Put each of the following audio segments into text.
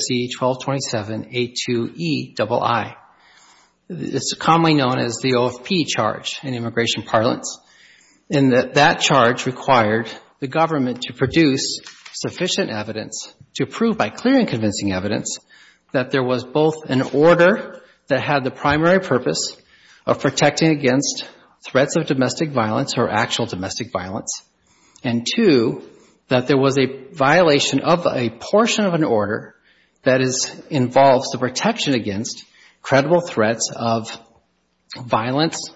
C-1227A2EII. It's commonly known as the OFP charge in immigration parlance, and that charge required the government to produce sufficient evidence to prove by clear and convincing evidence that there was both an order that had the primary purpose of protecting against threats of domestic violence or actual domestic violence, and two, that there was a violation of a portion of an order that involves the protection against credible threats of violence,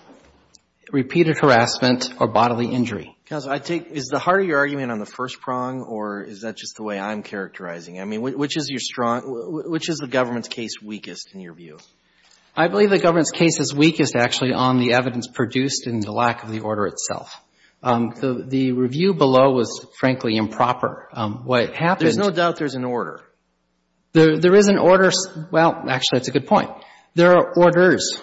repeated harassment, or bodily injury. Counsel, I take, is the heart of your argument on the first prong, or is that just the way I'm characterizing it? I mean, which is the government's case weakest in your view? I believe the government's case is weakest, actually, on the evidence produced and the lack of the order itself. The review below was, frankly, improper. What happened There's no doubt there's an order. There is an order. Well, actually, that's a good point. There are orders.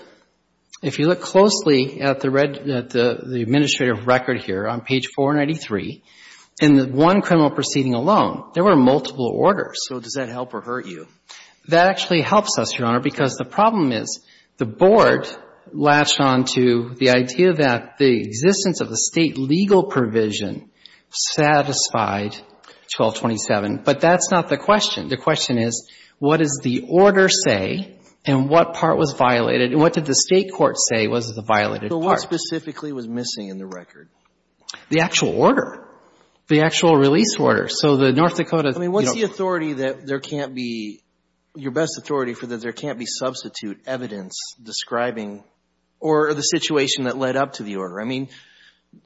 If you look closely at the administrative record here on page 493, in the one criminal proceeding alone, there were multiple orders. So does that help or hurt you? That actually helps us, Your Honor, because the problem is the board latched on to the idea that the existence of the State legal provision satisfied 1227. But that's not the question. The question is, what does the order say and what part was violated, and what did the State court say was the violated part? So what specifically was missing in the record? The actual order. The actual release order. So the North Dakota, you know I mean, what's the authority that there can't be, your best authority for that there can't be substitute evidence describing or the situation that led up to the order? I mean,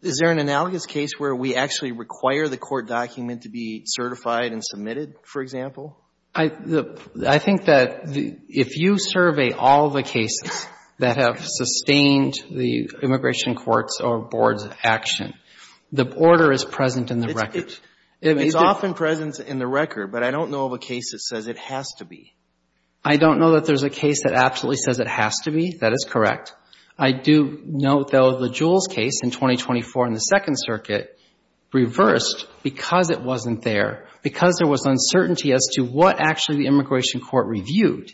is there an analogous case where we actually require the court document to be certified and submitted, for example? I think that if you survey all the cases that have sustained the immigration court's or board's action, the order is present in the record. It's often present in the record, but I don't know of a case that says it has to be. I don't know that there's a case that absolutely says it has to be. That is correct. I do know, though, the Jules case in 2024 in the Second Circuit reversed because it wasn't there, because there was uncertainty as to what actually the immigration court reviewed.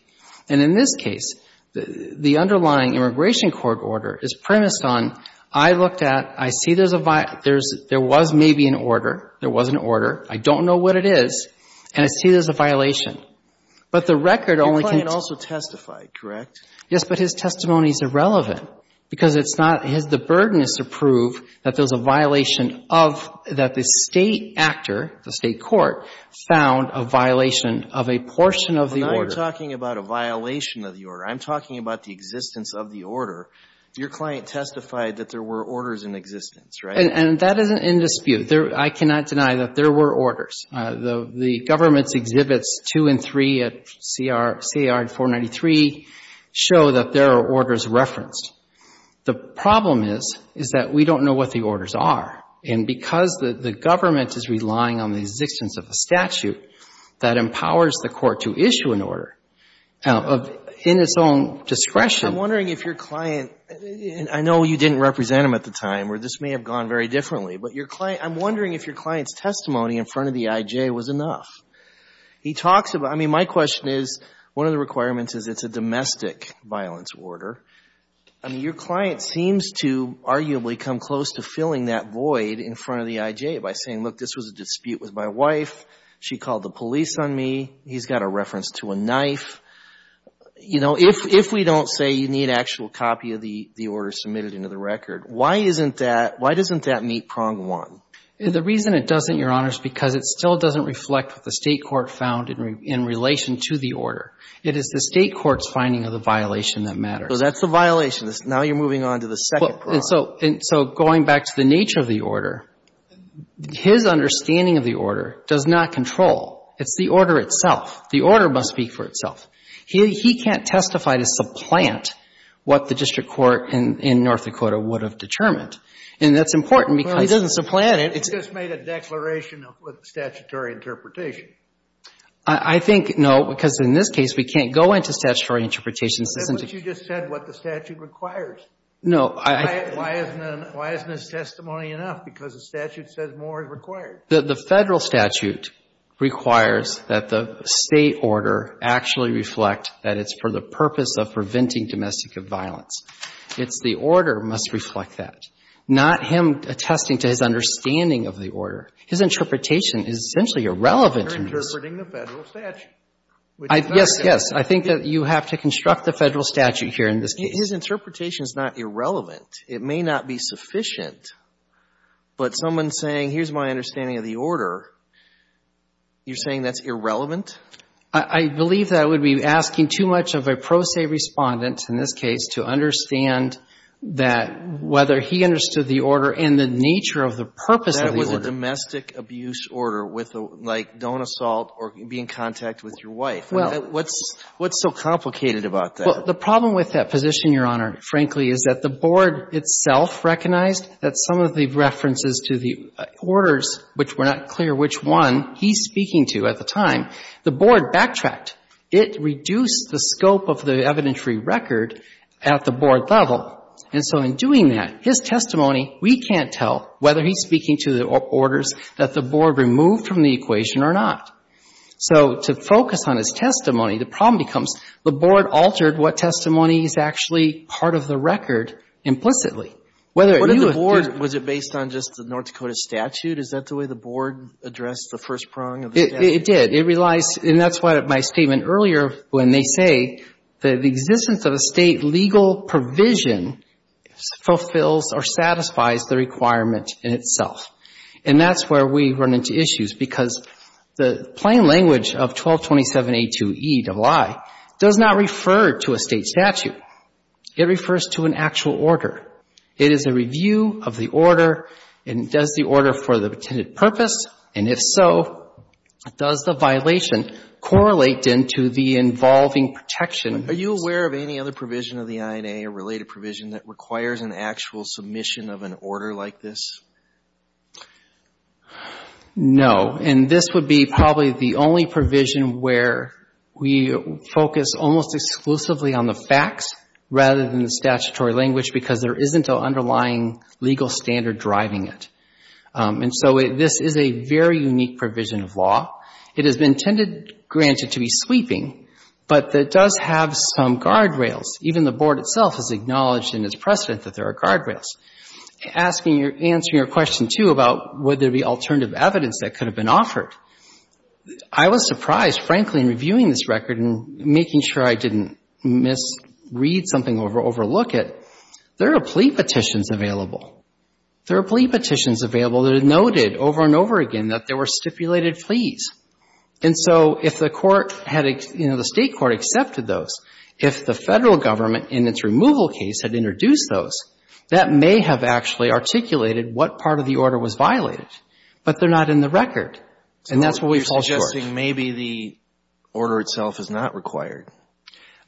And in this case, the underlying immigration court order is premised on, I looked at, I see there's a there was maybe an order, there was an order, I don't know what it is, and I see there's a violation. But the record only can Your client also testified, correct? Yes, but his testimony is irrelevant, because it's not, the burden is to prove that there was a violation of, that the State actor, the State court, found a violation of a portion of the order. We're not talking about a violation of the order. I'm talking about the existence of the order. Your client testified that there were orders in existence, right? And that is in dispute. I cannot deny that there were orders. The government's exhibits two and three at CAR 493 show that there are orders referenced. The problem is, is that we don't know what the orders are. And because the government is relying on the existence of a statute that empowers the court to issue an order in its own discretion I'm wondering if your client, and I know you didn't represent him at the time where this may have gone very differently, but your client, I'm wondering if your client's testimony in front of the IJ was enough. He talks about, I mean, my question is, one of the requirements is it's a domestic violence order. I mean, your client seems to arguably come close to filling that void in front of the IJ by saying, look, this was a dispute with my wife, she called the police on me, he's got a reference to a knife. You know, if we don't say you need actual copy of the order submitted into the record, why isn't that, why doesn't that meet prong one? The reason it doesn't, Your Honor, is because it still doesn't reflect what the State Court found in relation to the order. It is the State Court's finding of the violation that matters. So that's the violation. Now you're moving on to the second prong. And so going back to the nature of the order, his understanding of the order does not control. It's the order itself. The order must speak for itself. He can't testify to supplant what the district court in North Dakota would have determined. And that's important because Well, he doesn't supplant it. He just made a declaration of statutory interpretation. I think, no, because in this case we can't go into statutory interpretations. But you just said what the statute requires. No, I Why isn't his testimony enough? Because the statute says more is required. The Federal statute requires that the State order actually reflect that it's for the purpose of preventing domestic violence. It's the order must reflect that, not him attesting to his understanding of the order. His interpretation is essentially irrelevant in this case. You're interpreting the Federal statute, which is not Yes, yes. I think that you have to construct the Federal statute here in this case. His interpretation is not irrelevant. It may not be sufficient. But someone saying, here's my understanding of the order, you're saying that's irrelevant? I believe that would be asking too much of a pro se Respondent, in this case, to understand that whether he understood the order and the nature of the purpose of the order. That it was a domestic abuse order with a, like, don't assault or be in contact with your wife. Well What's so complicated about that? Well, the problem with that position, Your Honor, frankly, is that the Board itself recognized that some of the references to the orders, which were not clear which one he's speaking to at the time, the Board backtracked. It reduced the scope of the evidentiary record at the Board level. And so in doing that, his testimony, we can't tell whether he's speaking to the orders that the Board removed from the equation or not. So to focus on his testimony, the problem becomes the Board altered what testimony is actually part of the record implicitly. Whether it knew if the What did the Board, was it based on just the North Dakota statute? Is that the way the Board addressed the first prong of the statute? It did. It realized, and that's what my statement earlier, when they say that the existence of a State legal provision fulfills or satisfies the requirement in itself. And that's where we run into issues, because the plain language of 1227A2EII does not refer to a State statute. It refers to an actual order. It is a review of the order, and it does the order for the intended purpose. And if so, does the violation correlate into the involving protection? Are you aware of any other provision of the INA or related provision that requires an actual submission of an order like this? No. And this would be probably the only provision where we focus almost exclusively on the facts rather than the statutory language, because there isn't an underlying legal standard driving it. And so this is a very unique provision of law. It is intended, granted, to be sweeping, but it does have some guardrails. Even the Board itself has acknowledged in its precedent that there are guardrails. Asking your — answering your question, too, about would there be alternative evidence that could have been offered, I was surprised, frankly, in reviewing this record and making sure I didn't misread something or overlook it, there are plea petitions available. There are plea petitions available that are noted over and over again that there were stipulated pleas. And so if the Court had — you know, the State Court accepted those, if the Federal Government in its removal case had introduced those, that may have actually articulated what part of the order was violated. But they're not in the record. And that's where we fall short. So you're suggesting maybe the order itself is not required?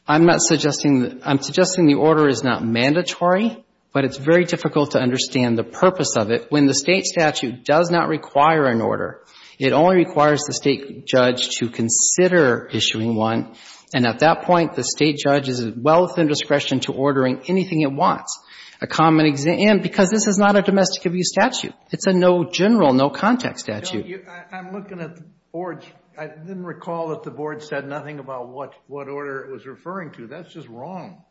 I'm not suggesting — I'm suggesting the order is not mandatory, but it's very difficult to understand the purpose of it. When the State statute does not require an order, it only requires the State judge to consider issuing one. And at that point, the State judge is well within discretion to ordering anything it wants, a common — and because this is not a domestic abuse statute. It's a no general, no context statute. I'm looking at the board's — I didn't recall that the board said nothing about what order it was referring to. That's just wrong.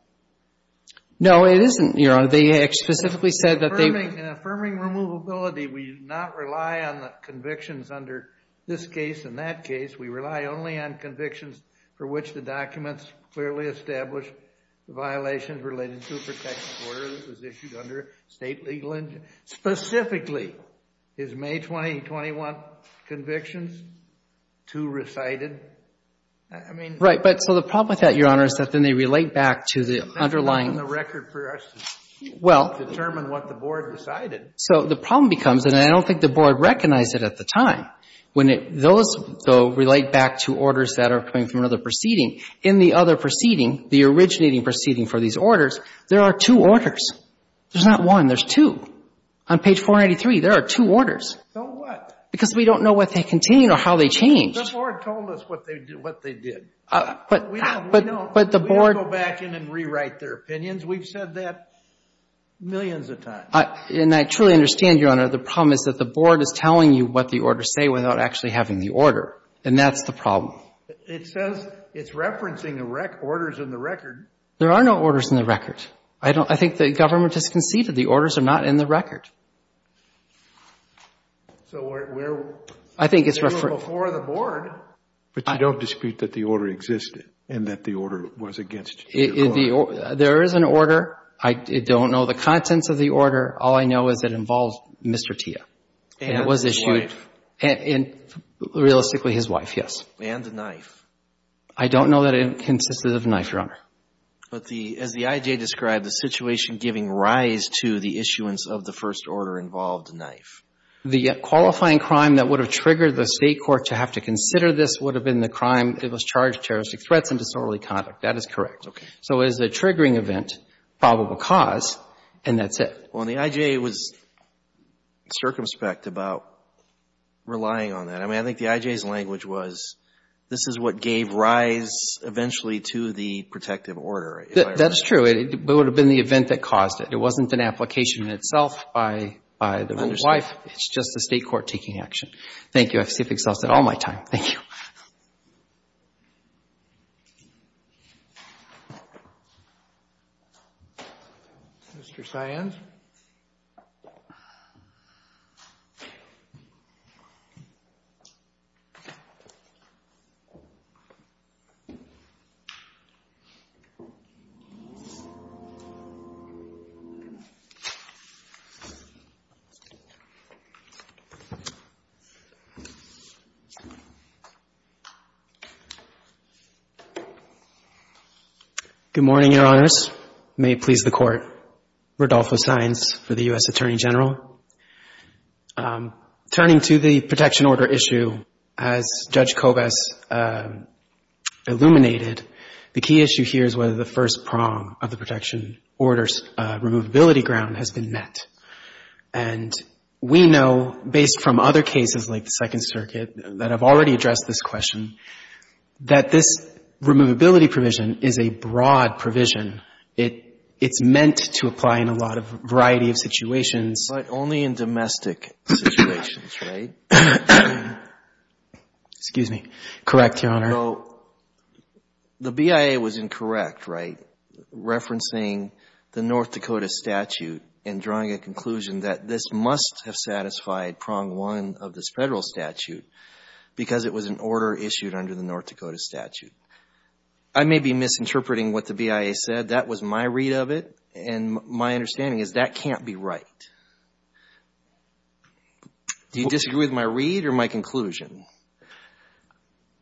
No, it isn't, Your Honor. They specifically said that they — In affirming removability, we do not rely on the convictions under this case and that case. We rely only on convictions for which the documents clearly establish the violations related to a protected order that was issued under a State legal injunction. Specifically, is May 2021 convictions too recited? I mean — Right. But so the problem with that, Your Honor, is that then they relate back to the underlying — They're not in the record for us to determine what the board decided. So the problem becomes — and I don't think the board recognized it at the time. When it — those, though, relate back to orders that are coming from another proceeding. In the other proceeding, the originating proceeding for these orders, there are two orders. There's not one. There's two. On page 483, there are two orders. So what? Because we don't know what they contained or how they changed. The board told us what they did. But the board — We don't go back in and rewrite their opinions. We've said that millions of times. And I truly understand, Your Honor, the problem is that the board is telling you what the orders say without actually having the order. And that's the problem. It says it's referencing orders in the record. There are no orders in the record. I don't — I think the government has conceded the orders are not in the record. So we're — I think it's —— before the board. But you don't dispute that the order existed and that the order was against you? There is an order. I don't know the contents of the order. All I know is it involved Mr. Tia. And his wife. And it was issued — realistically, his wife, yes. And a knife. I don't know that it consisted of a knife, Your Honor. But the — as the I.J. described, the situation giving rise to the issuance of the first order involved a knife. The qualifying crime that would have triggered the State court to have to consider this would have been the crime that was charged with terroristic threats and disorderly conduct. That is correct. So it is a triggering event, probable cause, and that's it. Well, and the I.J. was circumspect about relying on that. I mean, I think the I.J.'s language was, this is what gave rise eventually to the protective order. That's true. It would have been the event that caused it. It wasn't an application in itself by the wife. It's just the State court taking action. Thank you. I've skipped excels at all my time. Thank you. Mr. Cyan. Good morning, Your Honors. May it please the Court, Rodolfo Cyan for the U.S. Attorney General. Turning to the protection order issue, as Judge Kobes illuminated, the key issue here is whether the first prong of the protection order's removability ground has been met. And we know, based from other cases like the Second Circuit that have already addressed this question, that this removability provision is a broad provision. It's meant to apply in a lot of variety of situations. But only in domestic situations, right? Excuse me. Correct, Your Honor. The BIA was incorrect, right? Referencing the North Dakota statute and drawing a conclusion that this must have satisfied prong one of this Federal statute because it was an order issued under the North Dakota statute. I may be misinterpreting what the BIA said. That was my read of it, and my understanding is that can't be right. Do you disagree with my read or my conclusion?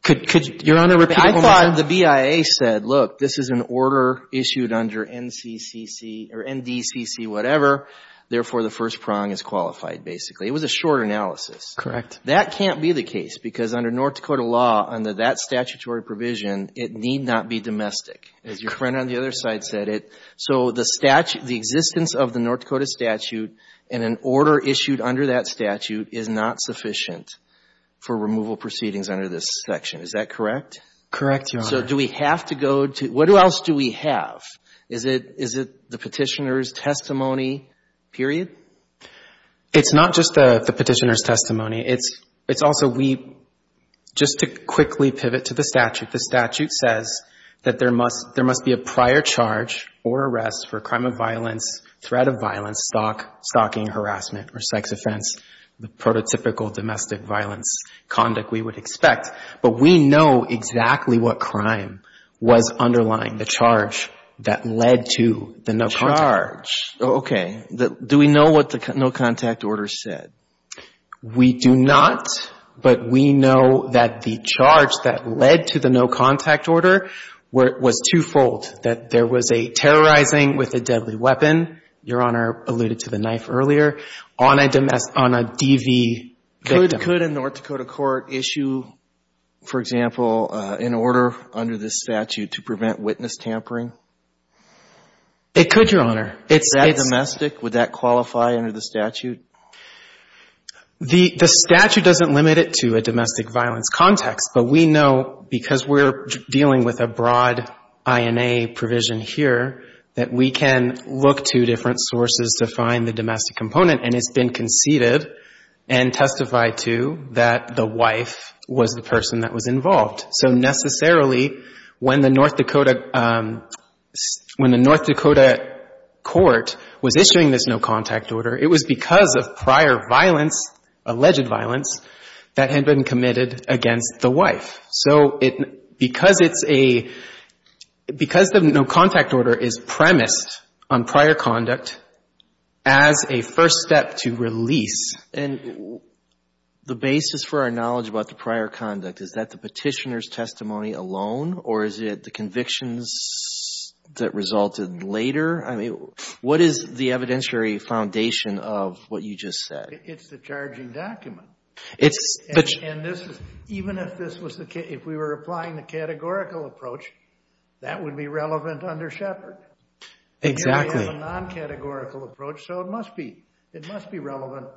Could Your Honor repeat it one more time? I thought the BIA said, look, this is an order issued under NCCC or NDCC, whatever, therefore the first prong is qualified, basically. It was a short analysis. Correct. That can't be the case because under North Dakota law, under that statutory provision, it need not be domestic. As your friend on the other side said, so the existence of the North Dakota statute and an order issued under that statute is not sufficient for removal proceedings under this section. Is that correct? Correct, Your Honor. So do we have to go to, what else do we have? Is it the petitioner's testimony, period? It's not just the petitioner's testimony. It's also we, just to quickly pivot to the statute, the statute says that there must be a prior charge or arrest for crime of violence, threat of violence, stalking, harassment or sex offense, the prototypical domestic violence conduct we would expect. But we know exactly what crime was underlying the charge that led to the no contact. Charge. Okay. Do we know what the no contact order said? We do not, but we know that the charge that led to the no contact order was twofold, that there was a terrorizing with a deadly weapon, Your Honor alluded to the knife earlier, on a DV victim. Could a North Dakota court issue, for example, an order under this statute to prevent witness tampering? It could, Your Honor. Is that domestic? Would that qualify under the statute? The statute doesn't limit it to a domestic violence context, but we know because we're dealing with a broad INA provision here, that we can look to different sources to find the domestic component, and it's been conceded and testified to that the wife was the person that was involved. So necessarily, when the North Dakota, when the North Dakota court was issuing this no contact order, it was because of prior violence, alleged violence, that had been committed against the wife. So because it's a, because the no contact order is premised on prior conduct as a first step to release. And the basis for our knowledge about the prior conduct, is that the petitioner's testimony alone, or is it the convictions that resulted later? I mean, what is the evidentiary foundation of what you just said? It's the charging document. And this is, even if this was the case, if we were applying the categorical approach, that would be relevant under Shepard. Exactly. It's a non-categorical approach, so it must be, it must be relevant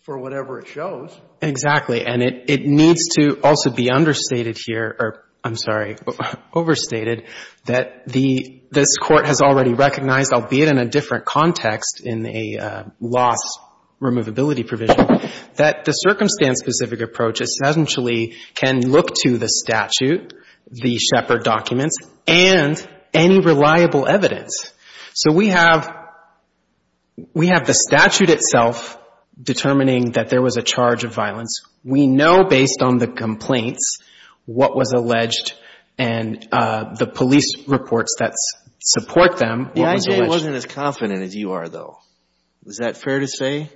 for whatever it shows. Exactly. And it needs to also be understated here, or I'm sorry, overstated that the, this Court has already recognized, albeit in a different context in a loss removability provision, that the circumstance specific approach essentially can look to the statute, the Shepard documents, and any reliable evidence. So we have the statute itself determining that there was a charge of violence. We know based on the complaints what was alleged and the police reports that support them what was alleged. The IJA wasn't as confident as you are, though. Is that fair to say?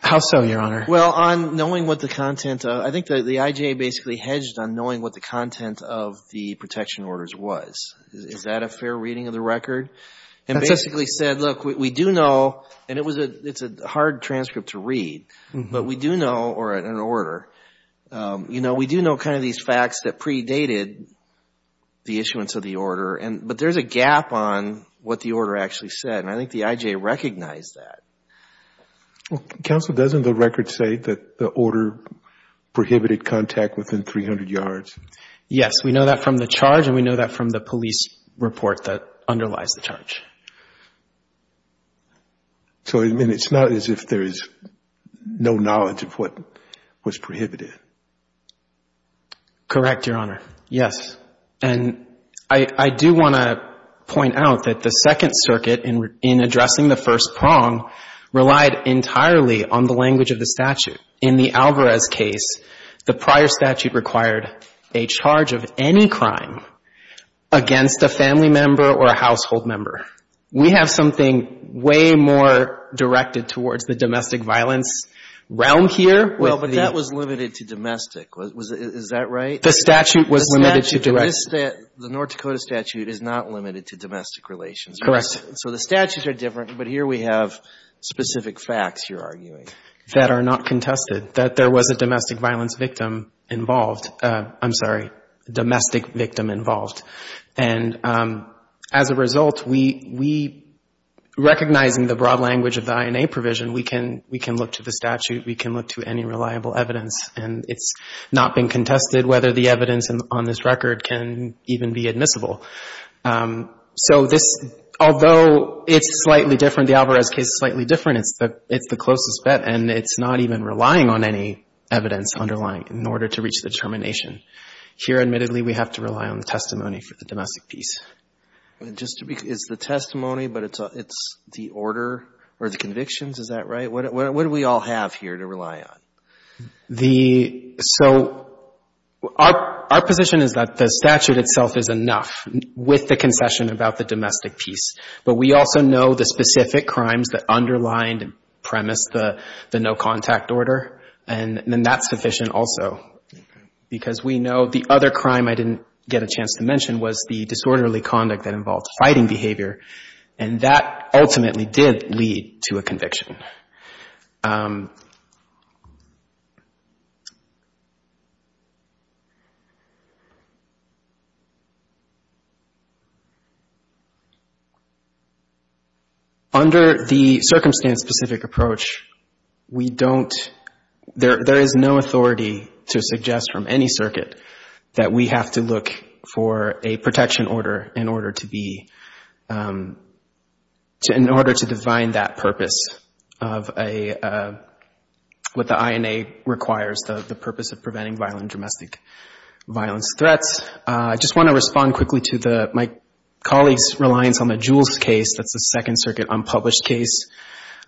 How so, Your Honor? Well, on knowing what the content, I think the IJA basically hedged on knowing what the content of the protection orders was. Is that a fair reading of the record? And basically said, look, we do know, and it's a hard transcript to read, but we do know, or an order, you know, we do know kind of these facts that predated the issuance of the order, but there's a gap on what the order actually said, and I think the IJA recognized that. Counsel, doesn't the record say that the order prohibited contact within 300 yards? Yes. We know that from the charge, and we know that from the police report that underlies the charge. So, I mean, it's not as if there is no knowledge of what was prohibited. Correct, Your Honor. Yes. And I do want to point out that the Second Circuit, in addressing the first prong, relied entirely on the language of the statute. In the Alvarez case, the prior statute required a charge of any crime against a family member or a household member. We have something way more directed towards the domestic violence realm here. Well, but that was limited to domestic. Is that right? The statute was limited to direct. The North Dakota statute is not limited to domestic relations. Correct. So the statutes are different, but here we have specific facts, you're arguing. That are not contested, that there was a domestic violence victim involved. I'm sorry, domestic victim involved. And as a result, we, recognizing the broad language of the INA provision, we can look to the statute, we can look to any reliable evidence, and it's not been contested whether the evidence on this record can even be admissible. So this, although it's slightly different, the Alvarez case is slightly different, and it's the closest bet, and it's not even relying on any evidence underlying in order to reach the determination. Here, admittedly, we have to rely on the testimony for the domestic piece. Just to be clear, it's the testimony, but it's the order or the convictions? Is that right? What do we all have here to rely on? The — so our position is that the statute itself is enough with the concession about the domestic piece, but we also know the specific crimes that underlined and premised the no-contact order, and then that's sufficient also. Because we know the other crime I didn't get a chance to mention was the disorderly conduct that involved fighting behavior, and that ultimately did lead to a conviction. Under the circumstance-specific approach, we don't — there is no authority to suggest from any circuit that we have to look for a protection order in order to be — in order to define that purpose of a — what the INA requires, the purpose of preventing violent domestic violence threats. I just want to respond quickly to the — my colleague's reliance on the Jules case. That's the Second Circuit unpublished case.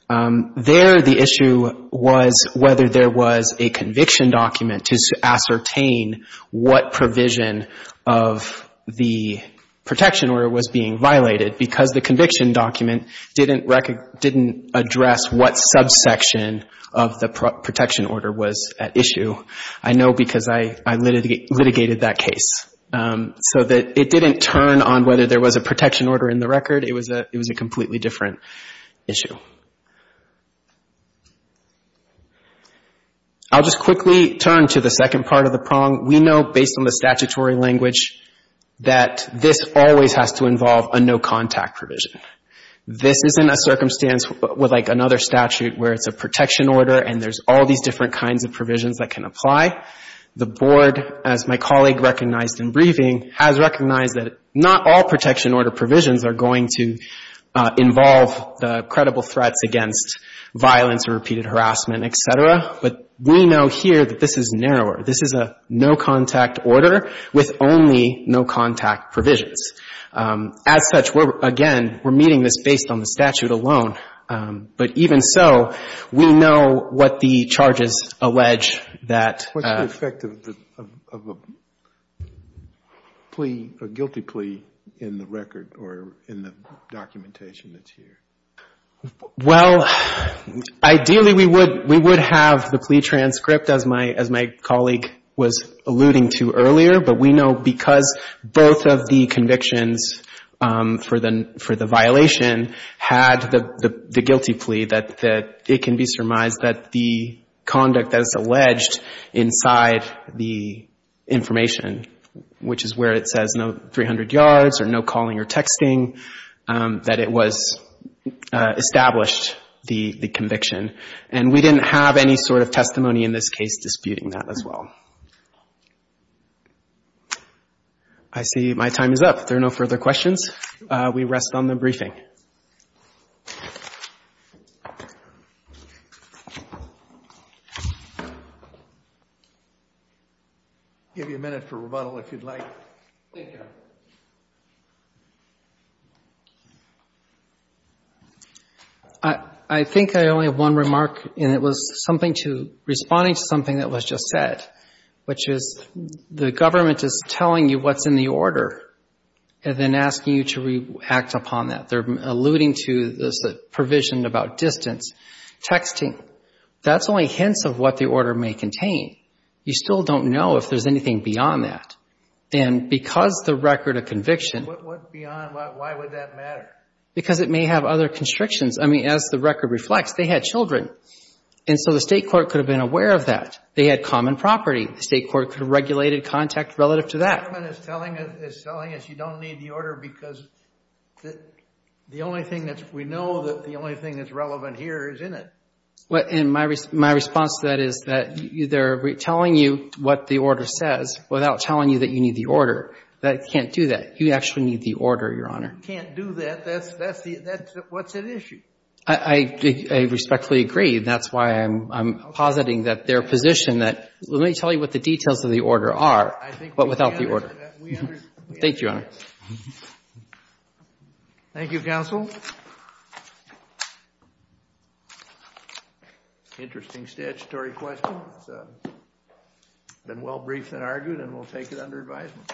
There, the issue was whether there was a conviction document to ascertain what provision of the protection order was being violated, because the conviction document didn't address what subsection of the protection order was at issue. I know because I litigated that case. So it didn't turn on whether there was a protection order in the record. It was a completely different issue. I'll just quickly turn to the second part of the prong. We know, based on the statutory language, that this always has to involve a no-contact provision. This isn't a circumstance with, like, another statute where it's a protection order and there's all these different kinds of provisions that can apply. The Board, as my colleague recognized in briefing, has recognized that not all protection order provisions are going to involve the credible threats against violence or repeated harassment, et cetera. But we know here that this is narrower. This is a no-contact order with only no-contact provisions. As such, again, we're meeting this based on the statute alone. But even so, we know what the charges allege that ---- What's the effect of a plea, a guilty plea, in the record or in the documentation that's here? Well, ideally we would have the plea transcript, as my colleague was alluding to earlier. But we know because both of the convictions for the violation had the guilty plea, that it can be surmised that the conduct that's alleged inside the information, which is where it says no 300 yards or no calling or texting, that it was in the case of the conviction. And we didn't have any sort of testimony in this case disputing that as well. I see my time is up. There are no further questions. We rest on the briefing. I think I only have one remark, and it was something to responding to something that was just said, which is the government is telling you what's in the order and then asking you to act upon that. They're alluding to this provision about distance, texting. That's only hints of what the order may contain. You still don't know if there's anything beyond that. And because the record of conviction... Why would that matter? Because it may have other constrictions. I mean, as the record reflects, they had children. And so the state court could have been aware of that. They had common property. The state court could have regulated contact relative to that. And my response to that is that they're telling you what the order says without telling you that you need the order. That can't do that. You actually need the order, Your Honor. You can't do that. That's what's at issue. I respectfully agree. That's why I'm positing that their position that let me tell you what the details of the order are, but without the order. Thank you, Your Honor. Thank you, counsel. Interesting statutory question. It's been well briefed and argued, and we'll take it under advisement.